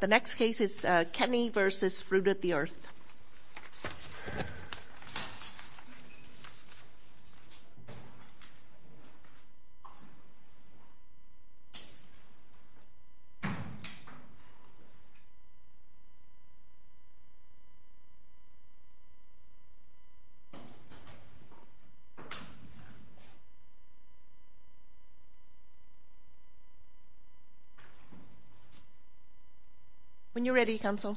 The next case is Kenney v. Fruit of the Earth. When you're ready, Counsel.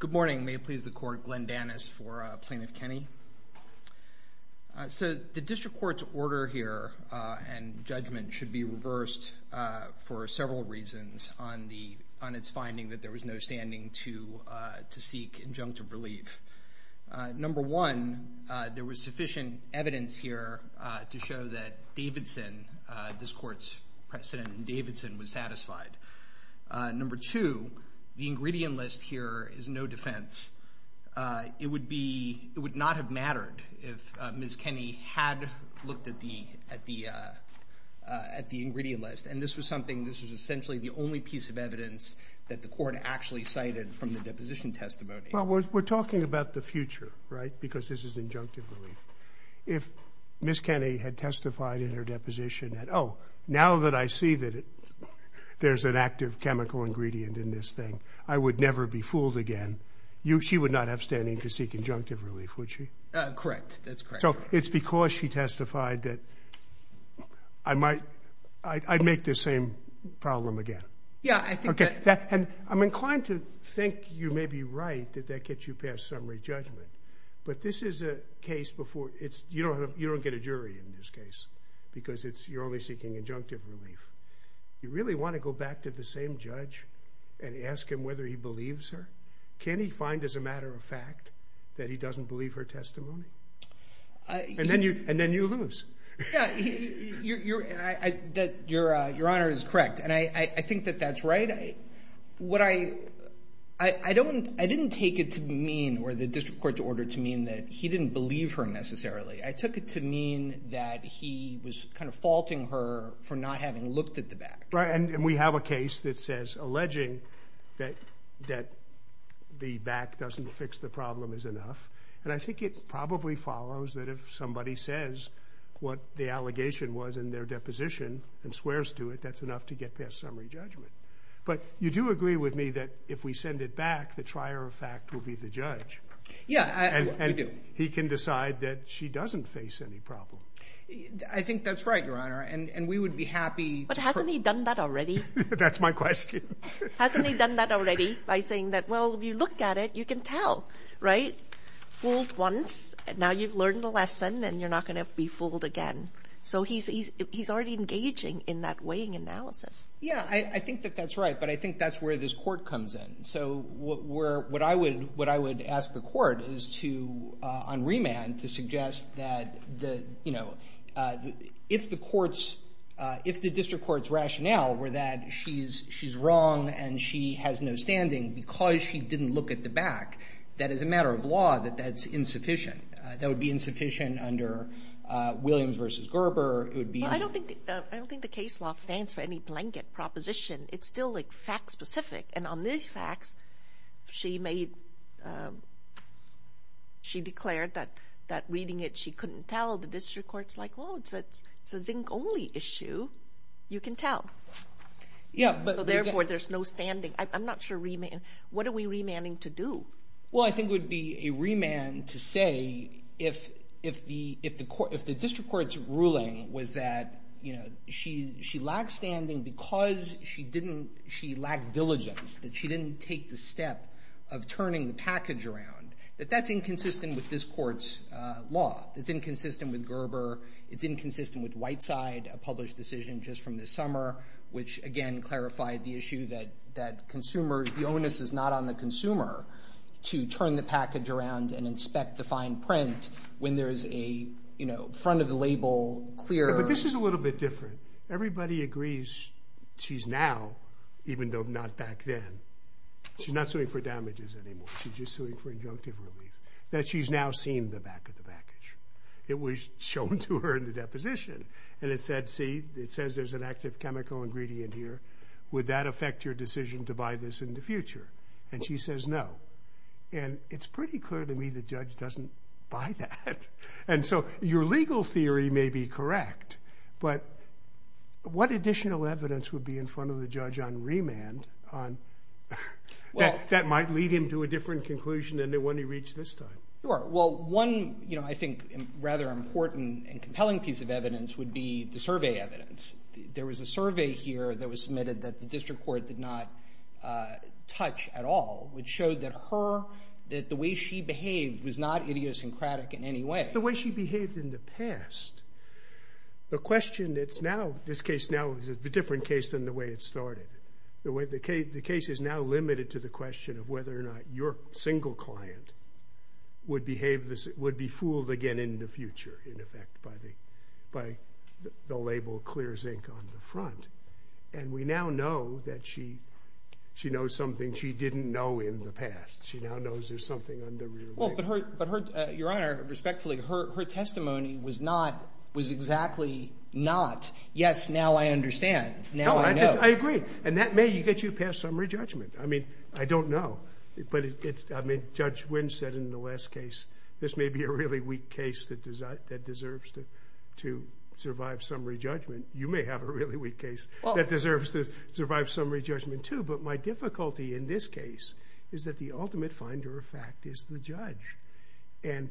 Good morning. May it please the Court, Glenn Danis for Plaintiff Kenney. So the District Court's order here and judgment should be reversed for several reasons on its finding that there was no standing to seek injunctive relief. Number one, there was sufficient evidence here to show that Davidson, this Court's precedent in Davidson, was satisfied. Number two, the ingredient list here is no defense. It would not have mattered if Ms. Kenney had looked at the ingredient list. And this was something, this was essentially the only piece of evidence that the Court actually cited from the deposition testimony. Well, we're talking about the future, right, because this is injunctive relief. If Ms. Kenney had testified in her deposition that, oh, now that I see that there's an active chemical ingredient in this thing, I would never be fooled again, she would not have standing to seek injunctive relief, would she? Correct. That's correct. So it's because she testified that I might, I'd make this same problem again. Yeah, I think that. And I'm inclined to think you may be right that that gets you past summary judgment, but this is a case before, you don't get a jury in this case because you're only seeking injunctive relief. You really want to go back to the same judge and ask him whether he believes her? Can he find as a matter of fact that he doesn't believe her testimony? And then you lose. Yeah, Your Honor is correct, and I think that that's right. What I, I don't, I didn't take it to mean, or the District Court's order to mean, that he didn't believe her necessarily. I took it to mean that he was kind of faulting her for not having looked at the back. Right, and we have a case that says alleging that the back doesn't fix the problem is enough, and I think it probably follows that if somebody says what the allegation was in their deposition and swears to it, that's enough to get past summary judgment. But you do agree with me that if we send it back, the trier of fact will be the judge. Yeah, we do. And he can decide that she doesn't face any problem. I think that's right, Your Honor, and we would be happy. But hasn't he done that already? That's my question. Hasn't he done that already by saying that, well, if you look at it, you can tell, right? Fooled once, now you've learned the lesson, and you're not going to be fooled again. So he's already engaging in that weighing analysis. Yeah, I think that that's right, but I think that's where this court comes in. So what I would ask the court is to, on remand, to suggest that, you know, if the district court's rationale were that she's wrong and she has no standing because she didn't look at the back, that as a matter of law, that that's insufficient. That would be insufficient under Williams v. Gerber. I don't think the case law stands for any blanket proposition. It's still, like, fact-specific. And on these facts, she made—she declared that reading it she couldn't tell. The district court's like, well, it's a zinc-only issue. You can tell. So therefore, there's no standing. I'm not sure remand—what are we remanding to do? Well, I think it would be a remand to say if the district court's ruling was that, you know, she lacked standing because she didn't—she lacked diligence, that she didn't take the step of turning the package around, that that's inconsistent with this court's law. It's inconsistent with Gerber. It's inconsistent with Whiteside, a published decision just from this summer, which, again, clarified the issue that consumers—the onus is not on the consumer to turn the package around and inspect the fine print when there's a, you know, front-of-the-label, clear— It's a little bit different. Everybody agrees she's now, even though not back then, she's not suing for damages anymore. She's just suing for injunctive relief, that she's now seen the back of the package. It was shown to her in the deposition. And it said, see, it says there's an active chemical ingredient here. Would that affect your decision to buy this in the future? And she says no. And it's pretty clear to me the judge doesn't buy that. And so your legal theory may be correct, but what additional evidence would be in front of the judge on remand that might lead him to a different conclusion than the one he reached this time? Sure. Well, one, you know, I think rather important and compelling piece of evidence would be the survey evidence. There was a survey here that was submitted that the district court did not touch at all, which showed that her, that the way she behaved was not idiosyncratic in any way. The way she behaved in the past, the question that's now, this case now is a different case than the way it started. The case is now limited to the question of whether or not your single client would be fooled again in the future, in effect, by the label Clear Zinc on the front. And we now know that she knows something she didn't know in the past. She now knows there's something under your name. Well, but her, your Honor, respectfully, her testimony was not, was exactly not, yes, now I understand. Now I know. I agree. And that may get you past summary judgment. I mean, I don't know. But, I mean, Judge Wynn said in the last case, this may be a really weak case that deserves to survive summary judgment. You may have a really weak case that deserves to survive summary judgment too. But my difficulty in this case is that the ultimate finder of fact is the judge. And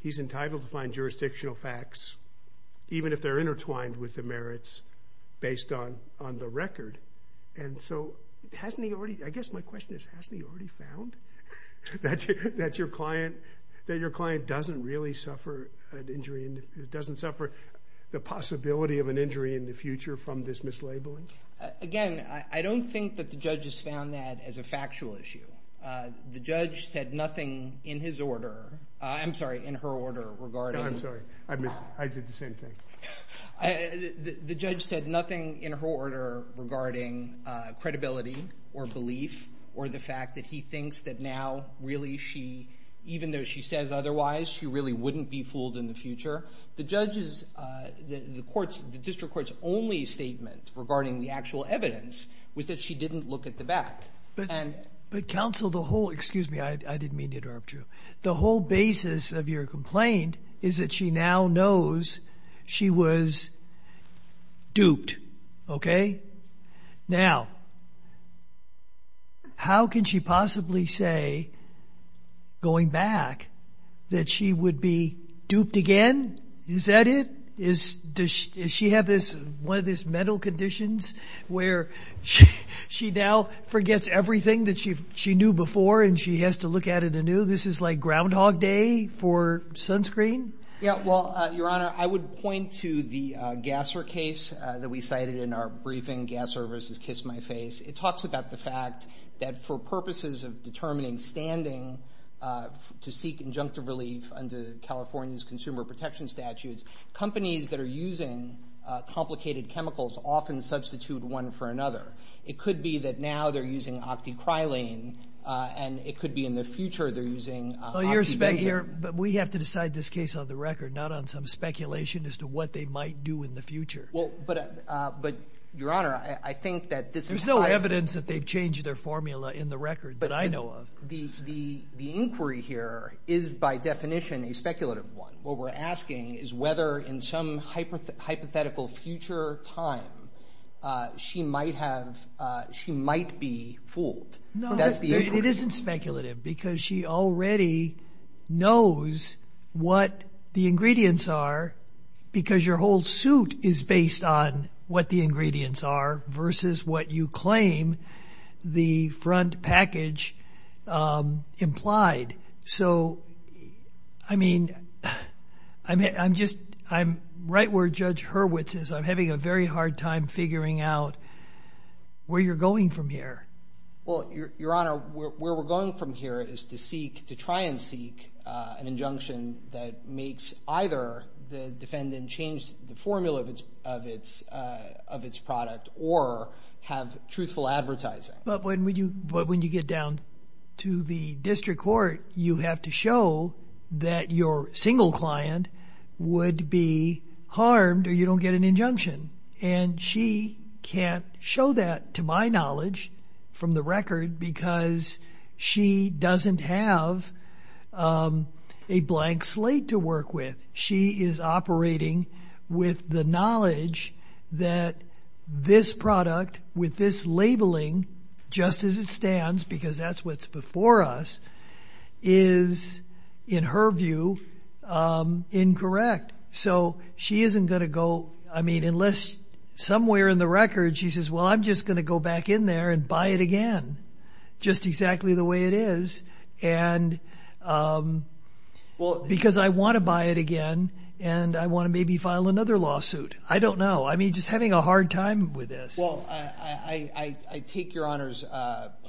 he's entitled to find jurisdictional facts, even if they're intertwined with the merits based on the record. And so hasn't he already, I guess my question is, hasn't he already found that your client doesn't really suffer an injury, doesn't suffer the possibility of an injury in the future from this mislabeling? Again, I don't think that the judge has found that as a factual issue. The judge said nothing in his order, I'm sorry, in her order regarding. I'm sorry. I did the same thing. The judge said nothing in her order regarding credibility or belief or the fact that he thinks that now really she, even though she says otherwise, she really wouldn't be fooled in the future. The judge's, the court's, the district court's only statement regarding the actual evidence was that she didn't look at the back. But counsel, the whole, excuse me, I didn't mean to interrupt you. The whole basis of your complaint is that she now knows she was duped, okay? Now, how can she possibly say going back that she would be duped again? Is that it? Does she have this, one of these mental conditions where she now forgets everything that she knew before and she has to look at it anew? This is like Groundhog Day for sunscreen? Yeah, well, Your Honor, I would point to the Gasser case that we cited in our briefing, Gasser v. Kiss My Face. It talks about the fact that for purposes of determining standing to seek injunctive relief under California's consumer protection statutes, companies that are using complicated chemicals often substitute one for another. It could be that now they're using octycrylene and it could be in the future they're using octybenzene. Well, Your Honor, we have to decide this case on the record, not on some speculation as to what they might do in the future. But, Your Honor, I think that this is high- There's no evidence that they've changed their formula in the record that I know of. The inquiry here is by definition a speculative one. What we're asking is whether in some hypothetical future time she might be fooled. It isn't speculative because she already knows what the ingredients are because your whole suit is based on what the ingredients are versus what you claim the front package implied. So, I mean, I'm right where Judge Hurwitz is. I'm having a very hard time figuring out where you're going from here. Well, Your Honor, where we're going from here is to seek- to try and seek an injunction that makes either the defendant change the formula of its product or have truthful advertising. But when you get down to the district court, you have to show that your single client would be harmed or you don't get an injunction. And she can't show that, to my knowledge, from the record because she doesn't have a blank slate to work with. She is operating with the knowledge that this product, with this labeling just as it stands because that's what's before us, is, in her view, incorrect. So she isn't going to go- I mean, unless somewhere in the record she says, well, I'm just going to go back in there and buy it again just exactly the way it is because I want to buy it again and I want to maybe file another lawsuit. I don't know. I mean, just having a hard time with this. Well, I take Your Honor's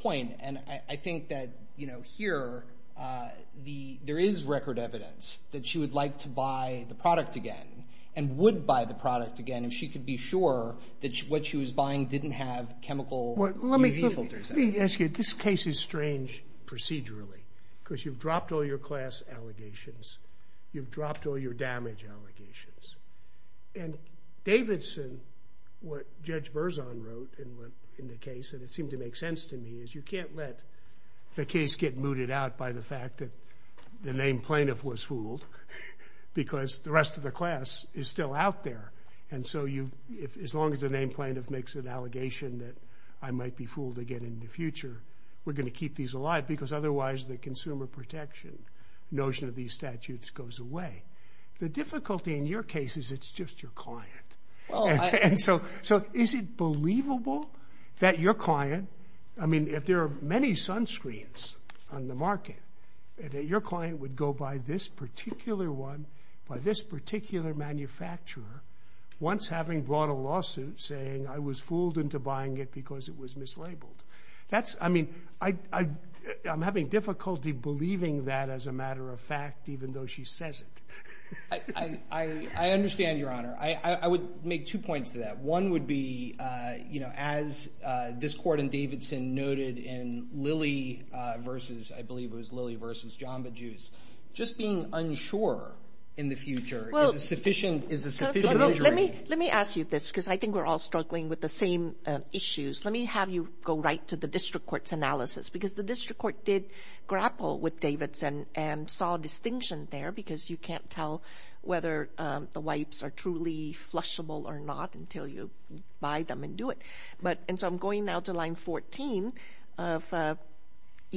point, and I think that here there is record evidence that she would like to buy the product again and would buy the product again if she could be sure that what she was buying didn't have chemical UV filters in it. Let me ask you, this case is strange procedurally because you've dropped all your class allegations. You've dropped all your damage allegations. And Davidson, what Judge Berzon wrote in the case, and it seemed to make sense to me, is you can't let the case get mooted out by the fact that the named plaintiff was fooled because the rest of the class is still out there. And so as long as the named plaintiff makes an allegation that I might be fooled again in the future, we're going to keep these alive because otherwise the consumer protection notion of these statutes goes away. The difficulty in your case is it's just your client. And so is it believable that your client, I mean, if there are many sunscreens on the market, that your client would go buy this particular one by this particular manufacturer once having brought a lawsuit saying I was fooled into buying it because it was mislabeled? That's, I mean, I'm having difficulty believing that as a matter of fact even though she says it. I understand, Your Honor. I would make two points to that. One would be, you know, as this court in Davidson noted in Lilly versus, I believe it was Lilly versus Jamba Juice, just being unsure in the future is a sufficient injury. Let me ask you this because I think we're all struggling with the same issues. Let me have you go right to the district court's analysis because the district court did grapple with Davidson and saw a distinction there because you can't tell whether the wipes are truly flushable or not until you buy them and do it. And so I'm going now to line 14 of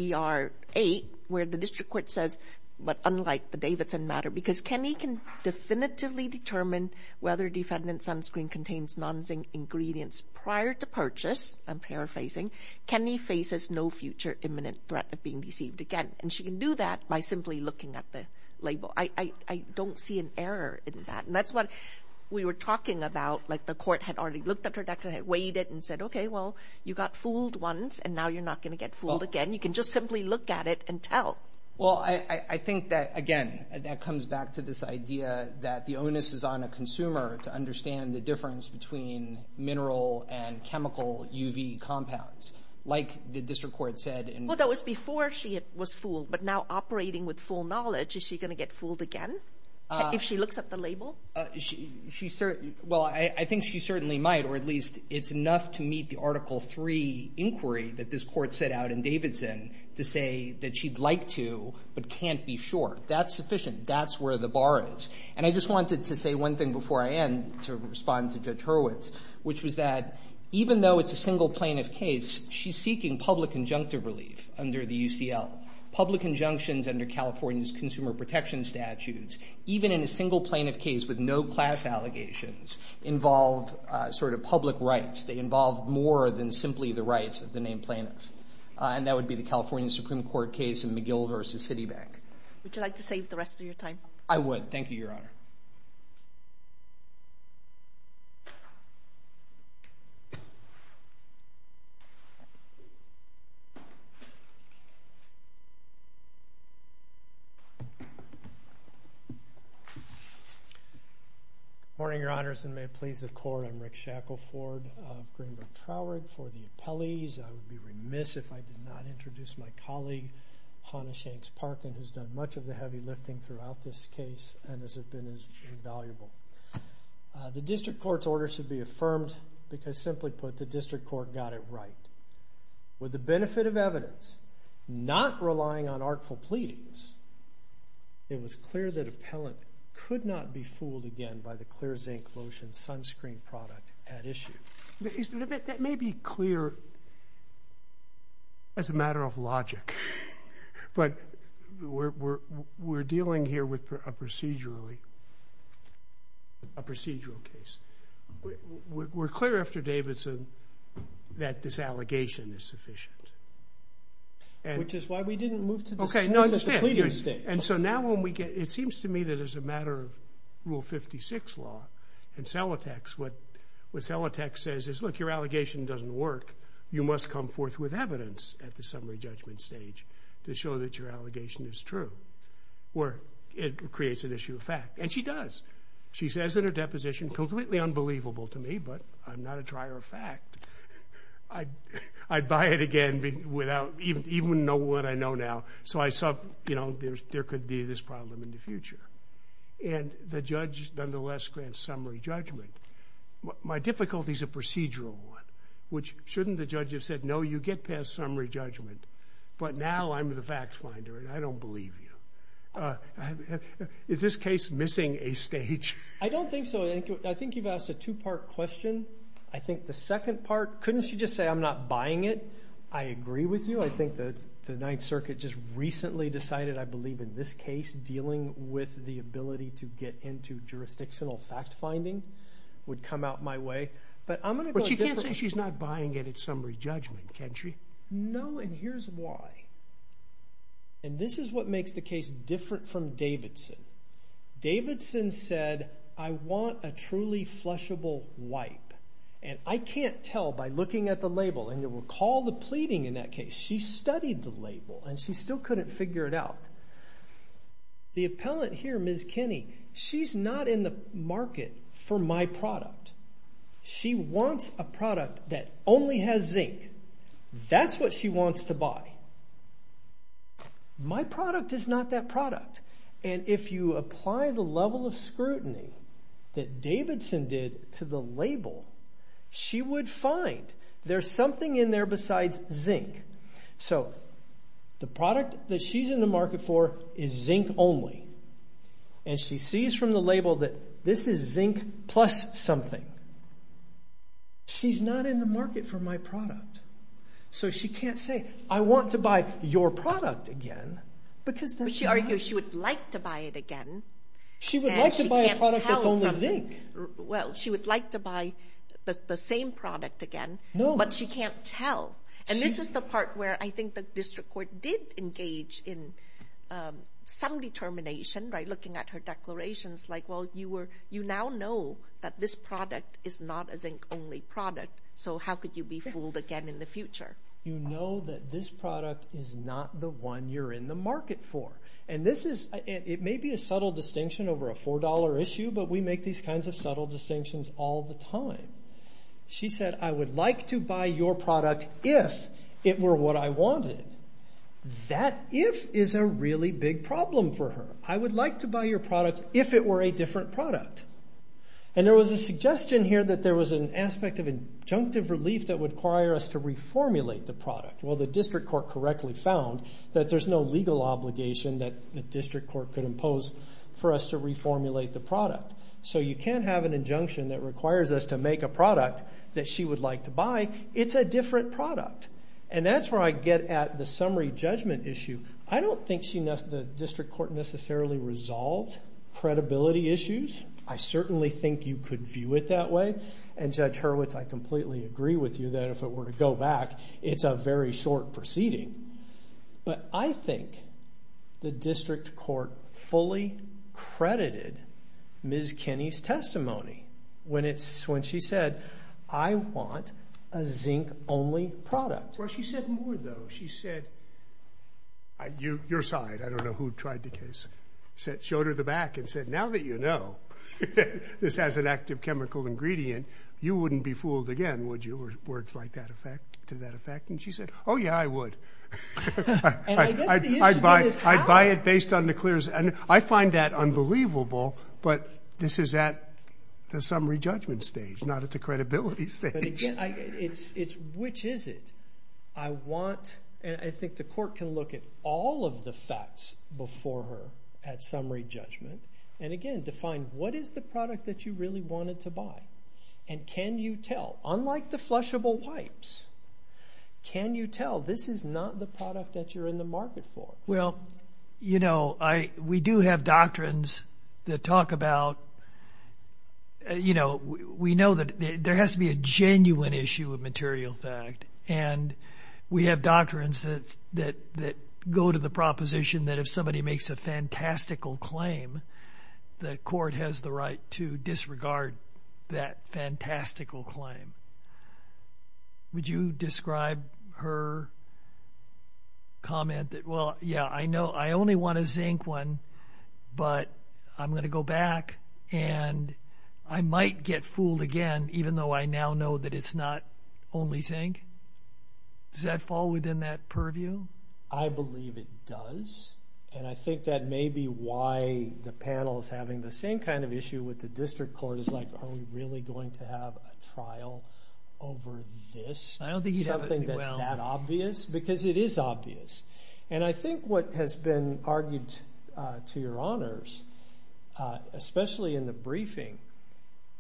ER 8 where the district court says, but unlike the Davidson matter, because Kenny can definitively determine whether defendant's sunscreen contains nonzinc ingredients prior to purchase, I'm paraphrasing, Kenny faces no future imminent threat of being deceived again. And she can do that by simply looking at the label. I don't see an error in that. And that's what we were talking about, like the court had already looked at her document, weighed it and said, okay, well, you got fooled once and now you're not going to get fooled again. You can just simply look at it and tell. Well, I think that, again, that comes back to this idea that the onus is on a consumer to understand the difference between mineral and chemical UV compounds, like the district court said. Well, that was before she was fooled. But now operating with full knowledge, is she going to get fooled again if she looks at the label? Well, I think she certainly might, or at least it's enough to meet the Article 3 inquiry that this court set out in Davidson to say that she'd like to but can't be sure. That's sufficient. That's where the bar is. And I just wanted to say one thing before I end to respond to Judge Hurwitz, which was that even though it's a single plaintiff case, she's seeking public injunctive relief under the UCL. Public injunctions under California's consumer protection statutes, even in a single plaintiff case with no class allegations, involve sort of public rights. They involve more than simply the rights of the named plaintiff. And that would be the California Supreme Court case in McGill v. Citibank. Would you like to save the rest of your time? I would. Thank you, Your Honor. Good morning, Your Honors, and may it please the Court, I'm Rick Shackelford of Greenville Troward. For the appellees, I would be remiss if I did not introduce my colleague, Hannah Shanks Parkin, who's done much of the heavy lifting throughout this case and has been invaluable. The district court's order should be affirmed because, simply put, the district court got it right. With the benefit of evidence, not relying on artful pleadings, it was clear that appellant could not be fooled again by the clear zinc lotion sunscreen product at issue. That may be clear as a matter of logic, but we're dealing here with a procedural case. We're clear after Davidson that this allegation is sufficient. Which is why we didn't move to this case as the pleading stage. And so now when we get to it, it seems to me that as a matter of Rule 56 law, in Celotex, what Celotex says is, look, your allegation doesn't work. You must come forth with evidence at the summary judgment stage to show that your allegation is true. Or it creates an issue of fact. And she does. She says in her deposition, completely unbelievable to me, but I'm not a trier of fact. I'd buy it again without even knowing what I know now. So I thought, you know, there could be this problem in the future. And the judge, nonetheless, grants summary judgment. My difficulty is a procedural one, which shouldn't the judge have said, no, you get past summary judgment, but now I'm the fact finder and I don't believe you. Is this case missing a stage? I don't think so. I think you've asked a two-part question. I think the second part, couldn't she just say I'm not buying it? I agree with you. Well, I think the Ninth Circuit just recently decided, I believe, in this case, dealing with the ability to get into jurisdictional fact finding would come out my way. But I'm going to go differently. But she can't say she's not buying it at summary judgment, can she? No, and here's why. And this is what makes the case different from Davidson. Davidson said, I want a truly flushable wipe. And I can't tell by looking at the label. And you'll recall the pleading in that case. She studied the label and she still couldn't figure it out. The appellant here, Ms. Kinney, she's not in the market for my product. She wants a product that only has zinc. That's what she wants to buy. My product is not that product. And if you apply the level of scrutiny that Davidson did to the label, she would find there's something in there besides zinc. So the product that she's in the market for is zinc only. And she sees from the label that this is zinc plus something. She's not in the market for my product. So she can't say, I want to buy your product again. But she argues she would like to buy it again. She would like to buy a product that's only zinc. Well, she would like to buy the same product again, but she can't tell. And this is the part where I think the district court did engage in some determination by looking at her declarations like, well, you now know that this product is not a zinc-only product. So how could you be fooled again in the future? You know that this product is not the one you're in the market for. And it may be a subtle distinction over a $4 issue, but we make these kinds of subtle distinctions all the time. She said, I would like to buy your product if it were what I wanted. That if is a really big problem for her. I would like to buy your product if it were a different product. And there was a suggestion here that there was an aspect of injunctive relief that would require us to reformulate the product. Well, the district court correctly found that there's no legal obligation that the district court could impose for us to reformulate the product. So you can't have an injunction that requires us to make a product that she would like to buy. It's a different product. And that's where I get at the summary judgment issue. I don't think the district court necessarily resolved credibility issues. I certainly think you could view it that way. And Judge Hurwitz, I completely agree with you that if it were to go back, it's a very short proceeding. But I think the district court fully credited Ms. Kinney's testimony when she said, I want a zinc-only product. Well, she said more, though. She said, your side. I don't know who tried the case. She showed her the back and said, now that you know this has an active chemical ingredient, you wouldn't be fooled again, would you? Words to that effect. And she said, oh, yeah, I would. I'd buy it based on the clearance. And I find that unbelievable, but this is at the summary judgment stage, not at the credibility stage. Which is it? I think the court can look at all of the facts before her at summary judgment and, again, define what is the product that you really wanted to buy. And can you tell, unlike the flushable wipes, can you tell this is not the product that you're in the market for? Well, you know, we do have doctrines that talk about, you know, we know that there has to be a genuine issue of material fact. And we have doctrines that go to the proposition that if somebody makes a fantastical claim, the court has the right to disregard that fantastical claim. Would you describe her comment that, well, yeah, I know I only want a zinc one, but I'm going to go back and I might get fooled again, even though I now know that it's not only zinc? Does that fall within that purview? I believe it does. And I think that may be why the panel is having the same kind of issue with the district court. It's like, are we really going to have a trial over this? Something that's that obvious? Because it is obvious. And I think what has been argued to your honors, especially in the briefing,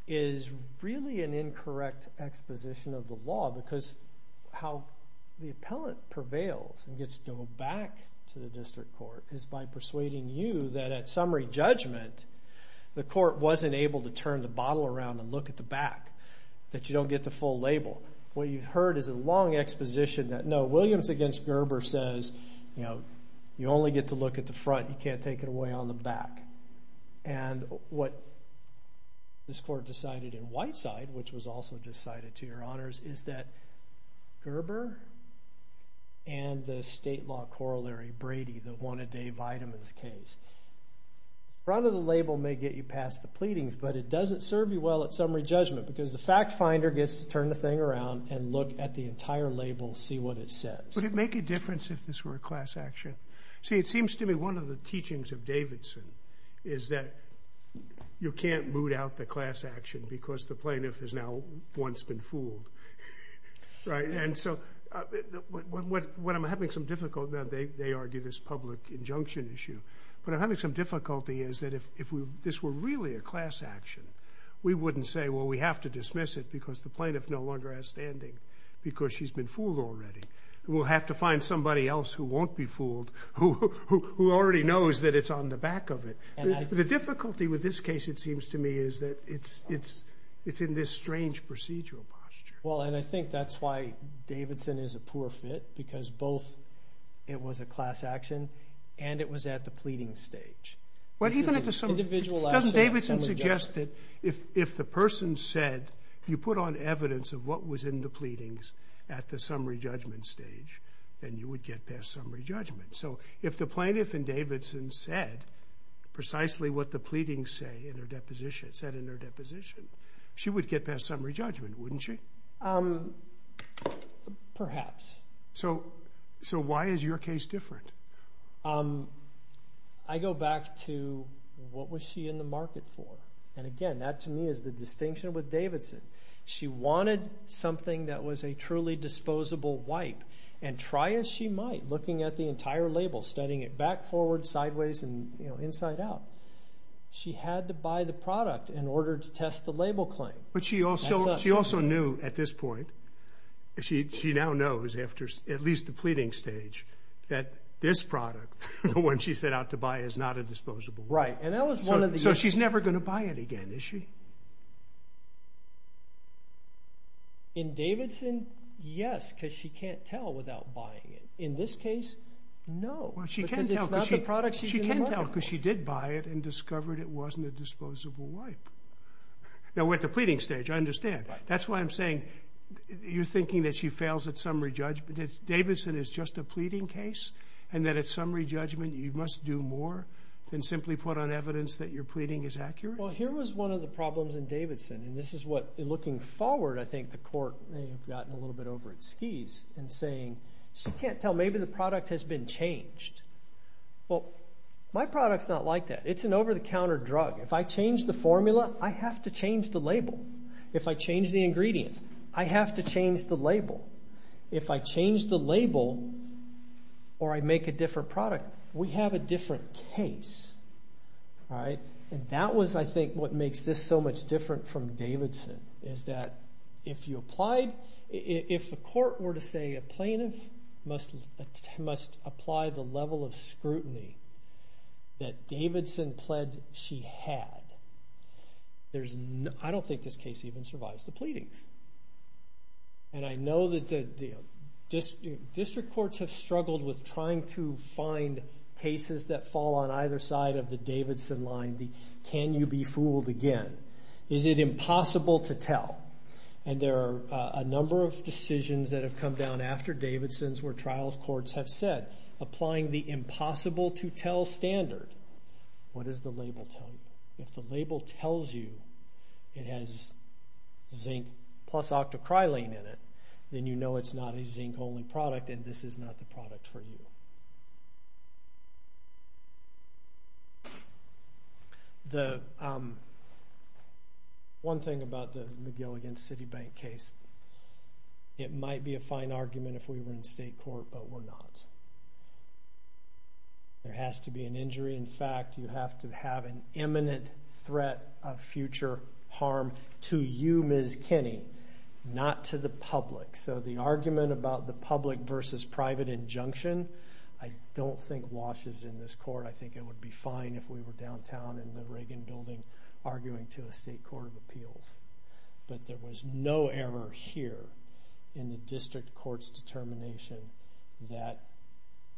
is really an incorrect exposition of the law because how the appellant prevails and gets to go back to the district court is by persuading you that at summary judgment, the court wasn't able to turn the bottle around and look at the back, that you don't get the full label. What you've heard is a long exposition that, no, Williams against Gerber says, you know, you only get to look at the front. You can't take it away on the back. And what this court decided in Whiteside, which was also decided to your honors, is that Gerber and the state law corollary Brady, the one-a-day vitamins case. The front of the label may get you past the pleadings, but it doesn't serve you well at summary judgment because the fact finder gets to turn the thing around and look at the entire label, see what it says. Would it make a difference if this were a class action? See, it seems to me one of the teachings of Davidson is that you can't boot out the class action because the plaintiff has now once been fooled. And so what I'm having some difficulty with, they argue this public injunction issue, but I'm having some difficulty is that if this were really a class action, we wouldn't say, well, we have to dismiss it because the plaintiff no longer has standing because she's been fooled already. We'll have to find somebody else who won't be fooled, who already knows that it's on the back of it. The difficulty with this case, it seems to me, is that it's in this strange procedural posture. Well, and I think that's why Davidson is a poor fit because both it was a class action and it was at the pleading stage. Doesn't Davidson suggest that if the person said, if you put on evidence of what was in the pleadings at the summary judgment stage, then you would get past summary judgment? So if the plaintiff in Davidson said precisely what the pleadings said in their deposition, she would get past summary judgment, wouldn't she? Perhaps. So why is your case different? I go back to what was she in the market for? And, again, that to me is the distinction with Davidson. She wanted something that was a truly disposable wipe, and try as she might, looking at the entire label, studying it back, forward, sideways, and inside out, she had to buy the product in order to test the label claim. But she also knew at this point, she now knows after at least the pleading stage, that this product, the one she set out to buy, is not a disposable wipe. Right, and that was one of the issues. So she's never going to buy it again, is she? In Davidson, yes, because she can't tell without buying it. In this case, no, because it's not the product she's in the market for. She can tell because she did buy it and discovered it wasn't a disposable wipe. Now, at the pleading stage, I understand. That's why I'm saying you're thinking that she fails at summary judgment. That Davidson is just a pleading case, and that at summary judgment, you must do more than simply put on evidence that your pleading is accurate? Well, here was one of the problems in Davidson, and this is what, looking forward, I think the court may have gotten a little bit over its skis in saying, she can't tell, maybe the product has been changed. Well, my product's not like that. It's an over-the-counter drug. If I change the formula, I have to change the label. If I change the ingredients, I have to change the label. If I change the label or I make a different product, we have a different case. And that was, I think, what makes this so much different from Davidson, is that if the court were to say a plaintiff must apply the level of scrutiny that Davidson pled she had, I don't think this case even survives the pleadings. And I know that district courts have struggled with trying to find cases that fall on either side of the Davidson line, the can you be fooled again? Is it impossible to tell? And there are a number of decisions that have come down after Davidson's where trials courts have said, applying the impossible-to-tell standard. What does the label tell you? If the label tells you it has zinc plus octocrylene in it, then you know it's not a zinc-only product and this is not the product for you. One thing about the McGill against Citibank case, it might be a fine argument if we were in state court, but we're not. There has to be an injury. In fact, you have to have an imminent threat of future harm to you, Ms. Kinney, not to the public. So the argument about the public versus private injunction, I don't think washes in this court. I think it would be fine if we were downtown in the Reagan building arguing to a state court of appeals. But there was no error here in the district court's determination that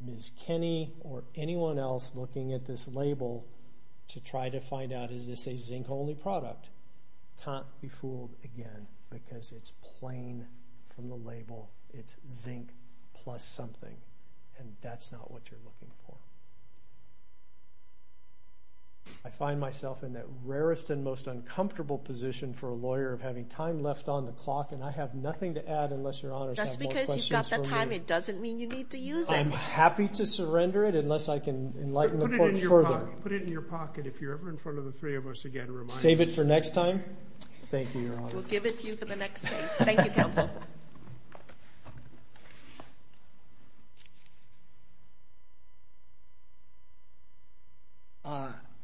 Ms. Kinney or anyone else looking at this label to try to find out is this a zinc-only product can't be fooled again because it's plain from the label. It's zinc plus something, and that's not what you're looking for. I find myself in that rarest and most uncomfortable position for a lawyer of having time left on the clock, and I have nothing to add unless Your Honors have more questions for me. That's because you've got that time. It doesn't mean you need to use it. I'm happy to surrender it unless I can enlighten the court further. Put it in your pocket. If you're ever in front of the three of us again, remind us. Save it for next time? Thank you, Your Honor. We'll give it to you for the next case. Thank you, counsel.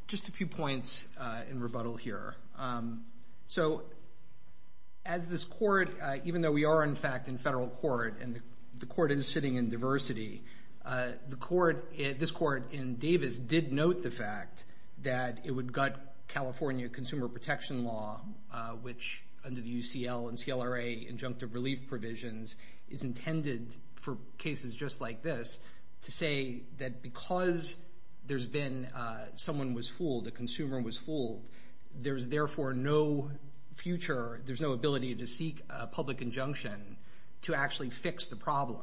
Just a few points in rebuttal here. So as this court, even though we are, in fact, in federal court and the court is sitting in diversity, this court in Davis did note the fact that it would gut California Consumer Protection Law, which under the UCL and CLRA injunctive relief provisions is intended for cases just like this to say that because someone was fooled, a consumer was fooled, there's therefore no future, there's no ability to seek a public injunction to actually fix the problem.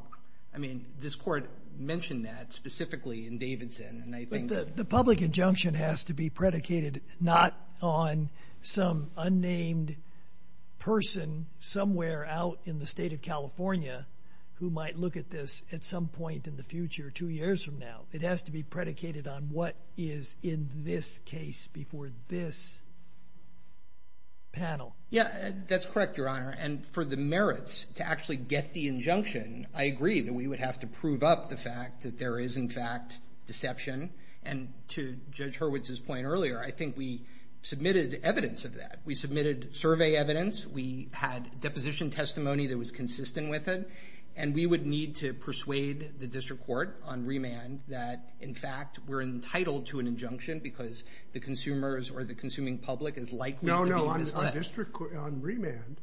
I mean, this court mentioned that specifically in Davidson. The public injunction has to be predicated not on some unnamed person somewhere out in the state of California who might look at this at some point in the future, two years from now. It has to be predicated on what is in this case before this panel. Yeah, that's correct, Your Honor. And for the merits to actually get the injunction, I agree that we would have to prove up the fact that there is, in fact, deception. And to Judge Hurwitz's point earlier, I think we submitted evidence of that. We submitted survey evidence. We had deposition testimony that was consistent with it. And we would need to persuade the district court on remand that, in fact, we're entitled to an injunction because the consumers or the consuming public is likely to be misled. On remand,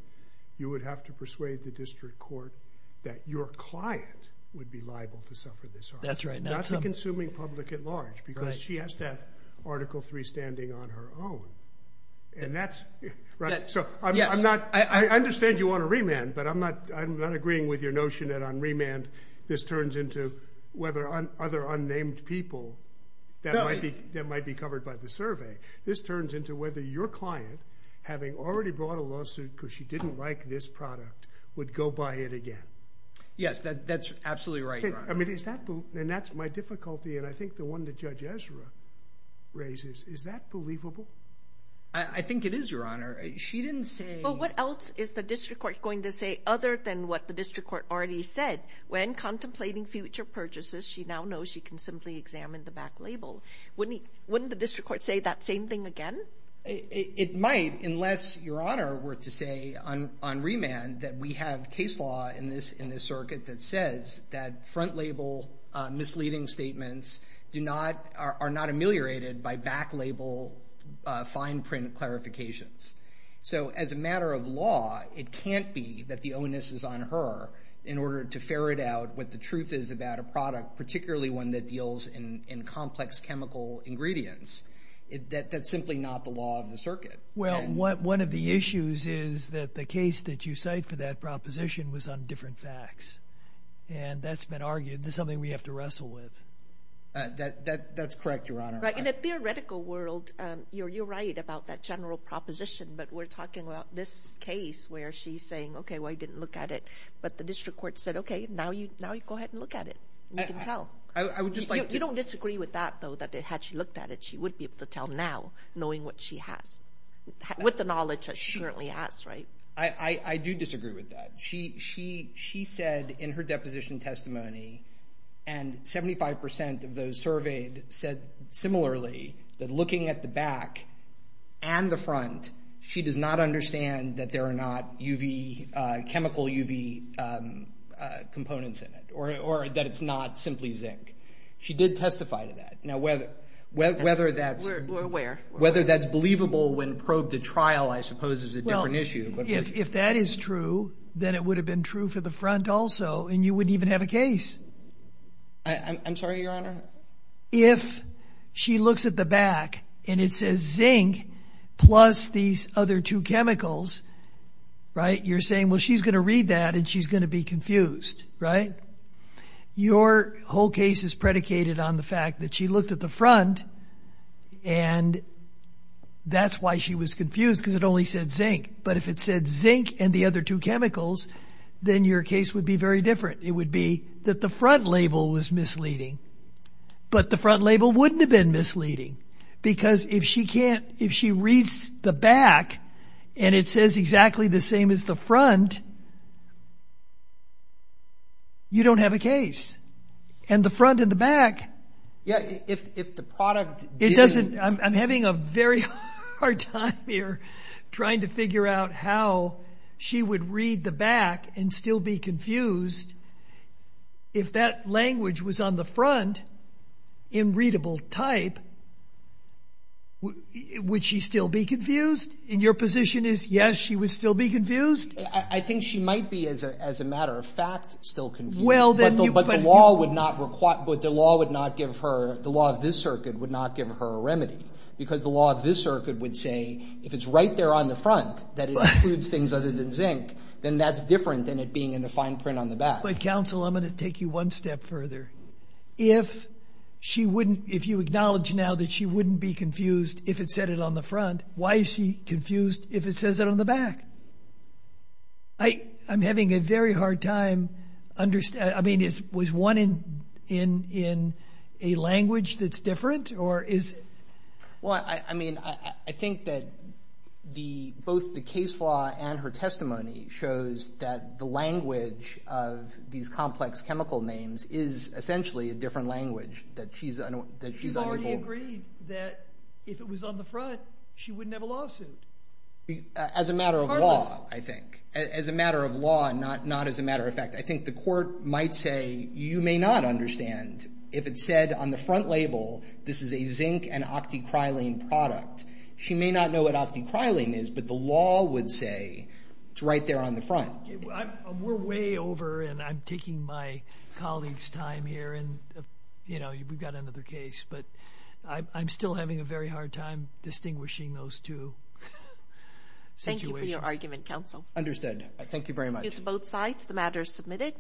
you would have to persuade the district court that your client would be liable to suffer this harm. That's right. That's the consuming public at large because she has to have Article III standing on her own. And that's right. I understand you want a remand, but I'm not agreeing with your notion that on remand this turns into whether other unnamed people that might be covered by the survey. This turns into whether your client, having already brought a lawsuit because she didn't like this product, would go buy it again. Yes, that's absolutely right, Your Honor. And that's my difficulty. And I think the one that Judge Ezra raises, is that believable? I think it is, Your Honor. She didn't say… But what else is the district court going to say other than what the district court already said? When contemplating future purchases, she now knows she can simply examine the back label. Wouldn't the district court say that same thing again? It might, unless, Your Honor, we're to say on remand that we have case law in this circuit that says that front label misleading statements are not ameliorated by back label fine print clarifications. So as a matter of law, it can't be that the onus is on her in order to ferret out what the truth is about a product, particularly one that deals in complex chemical ingredients. That's simply not the law of the circuit. Well, one of the issues is that the case that you cite for that proposition was on different facts, and that's been argued. This is something we have to wrestle with. That's correct, Your Honor. In a theoretical world, you're right about that general proposition, but we're talking about this case where she's saying, okay, well, you didn't look at it, but the district court said, okay, now you go ahead and look at it. You can tell. You don't disagree with that, though, that had she looked at it, she would be able to tell now, knowing what she has, with the knowledge that she currently has, right? I do disagree with that. She said in her deposition testimony, and 75% of those surveyed said similarly, that looking at the back and the front, she does not understand that there are not chemical UV components in it or that it's not simply zinc. She did testify to that. Now, whether that's believable when probed at trial, I suppose, is a different issue. If that is true, then it would have been true for the front also, and you wouldn't even have a case. I'm sorry, Your Honor? If she looks at the back and it says zinc plus these other two chemicals, right, you're saying, well, she's going to read that and she's going to be confused, right? Your whole case is predicated on the fact that she looked at the front and that's why she was confused, because it only said zinc. But if it said zinc and the other two chemicals, then your case would be very different. It would be that the front label was misleading, but the front label wouldn't have been misleading, because if she reads the back and it says exactly the same as the front, you don't have a case. And the front and the back. Yeah, if the product didn't. I'm having a very hard time here trying to figure out how she would read the back and still be confused. If that language was on the front in readable type, would she still be confused? And your position is, yes, she would still be confused? I think she might be, as a matter of fact, still confused. But the law would not give her, the law of this circuit would not give her a remedy, because the law of this circuit would say, if it's right there on the front that it includes things other than zinc, then that's different than it being in the fine print on the back. But, counsel, I'm going to take you one step further. If you acknowledge now that she wouldn't be confused if it said it on the front, why is she confused if it says it on the back? I'm having a very hard time understanding. I mean, was one in a language that's different? Well, I mean, I think that both the case law and her testimony shows that the language of these complex chemical names is essentially a different language, that she's unable. She's already agreed that if it was on the front, she wouldn't have a lawsuit. As a matter of law, I think. As a matter of law, not as a matter of fact. I think the court might say, you may not understand. If it said on the front label, this is a zinc and octicrylene product, she may not know what octicrylene is, but the law would say it's right there on the front. We're way over, and I'm taking my colleague's time here, and, you know, we've got another case. But I'm still having a very hard time distinguishing those two situations. Thank you for your argument, counsel. Understood. Thank you very much. Thank you to both sides. The matter is submitted.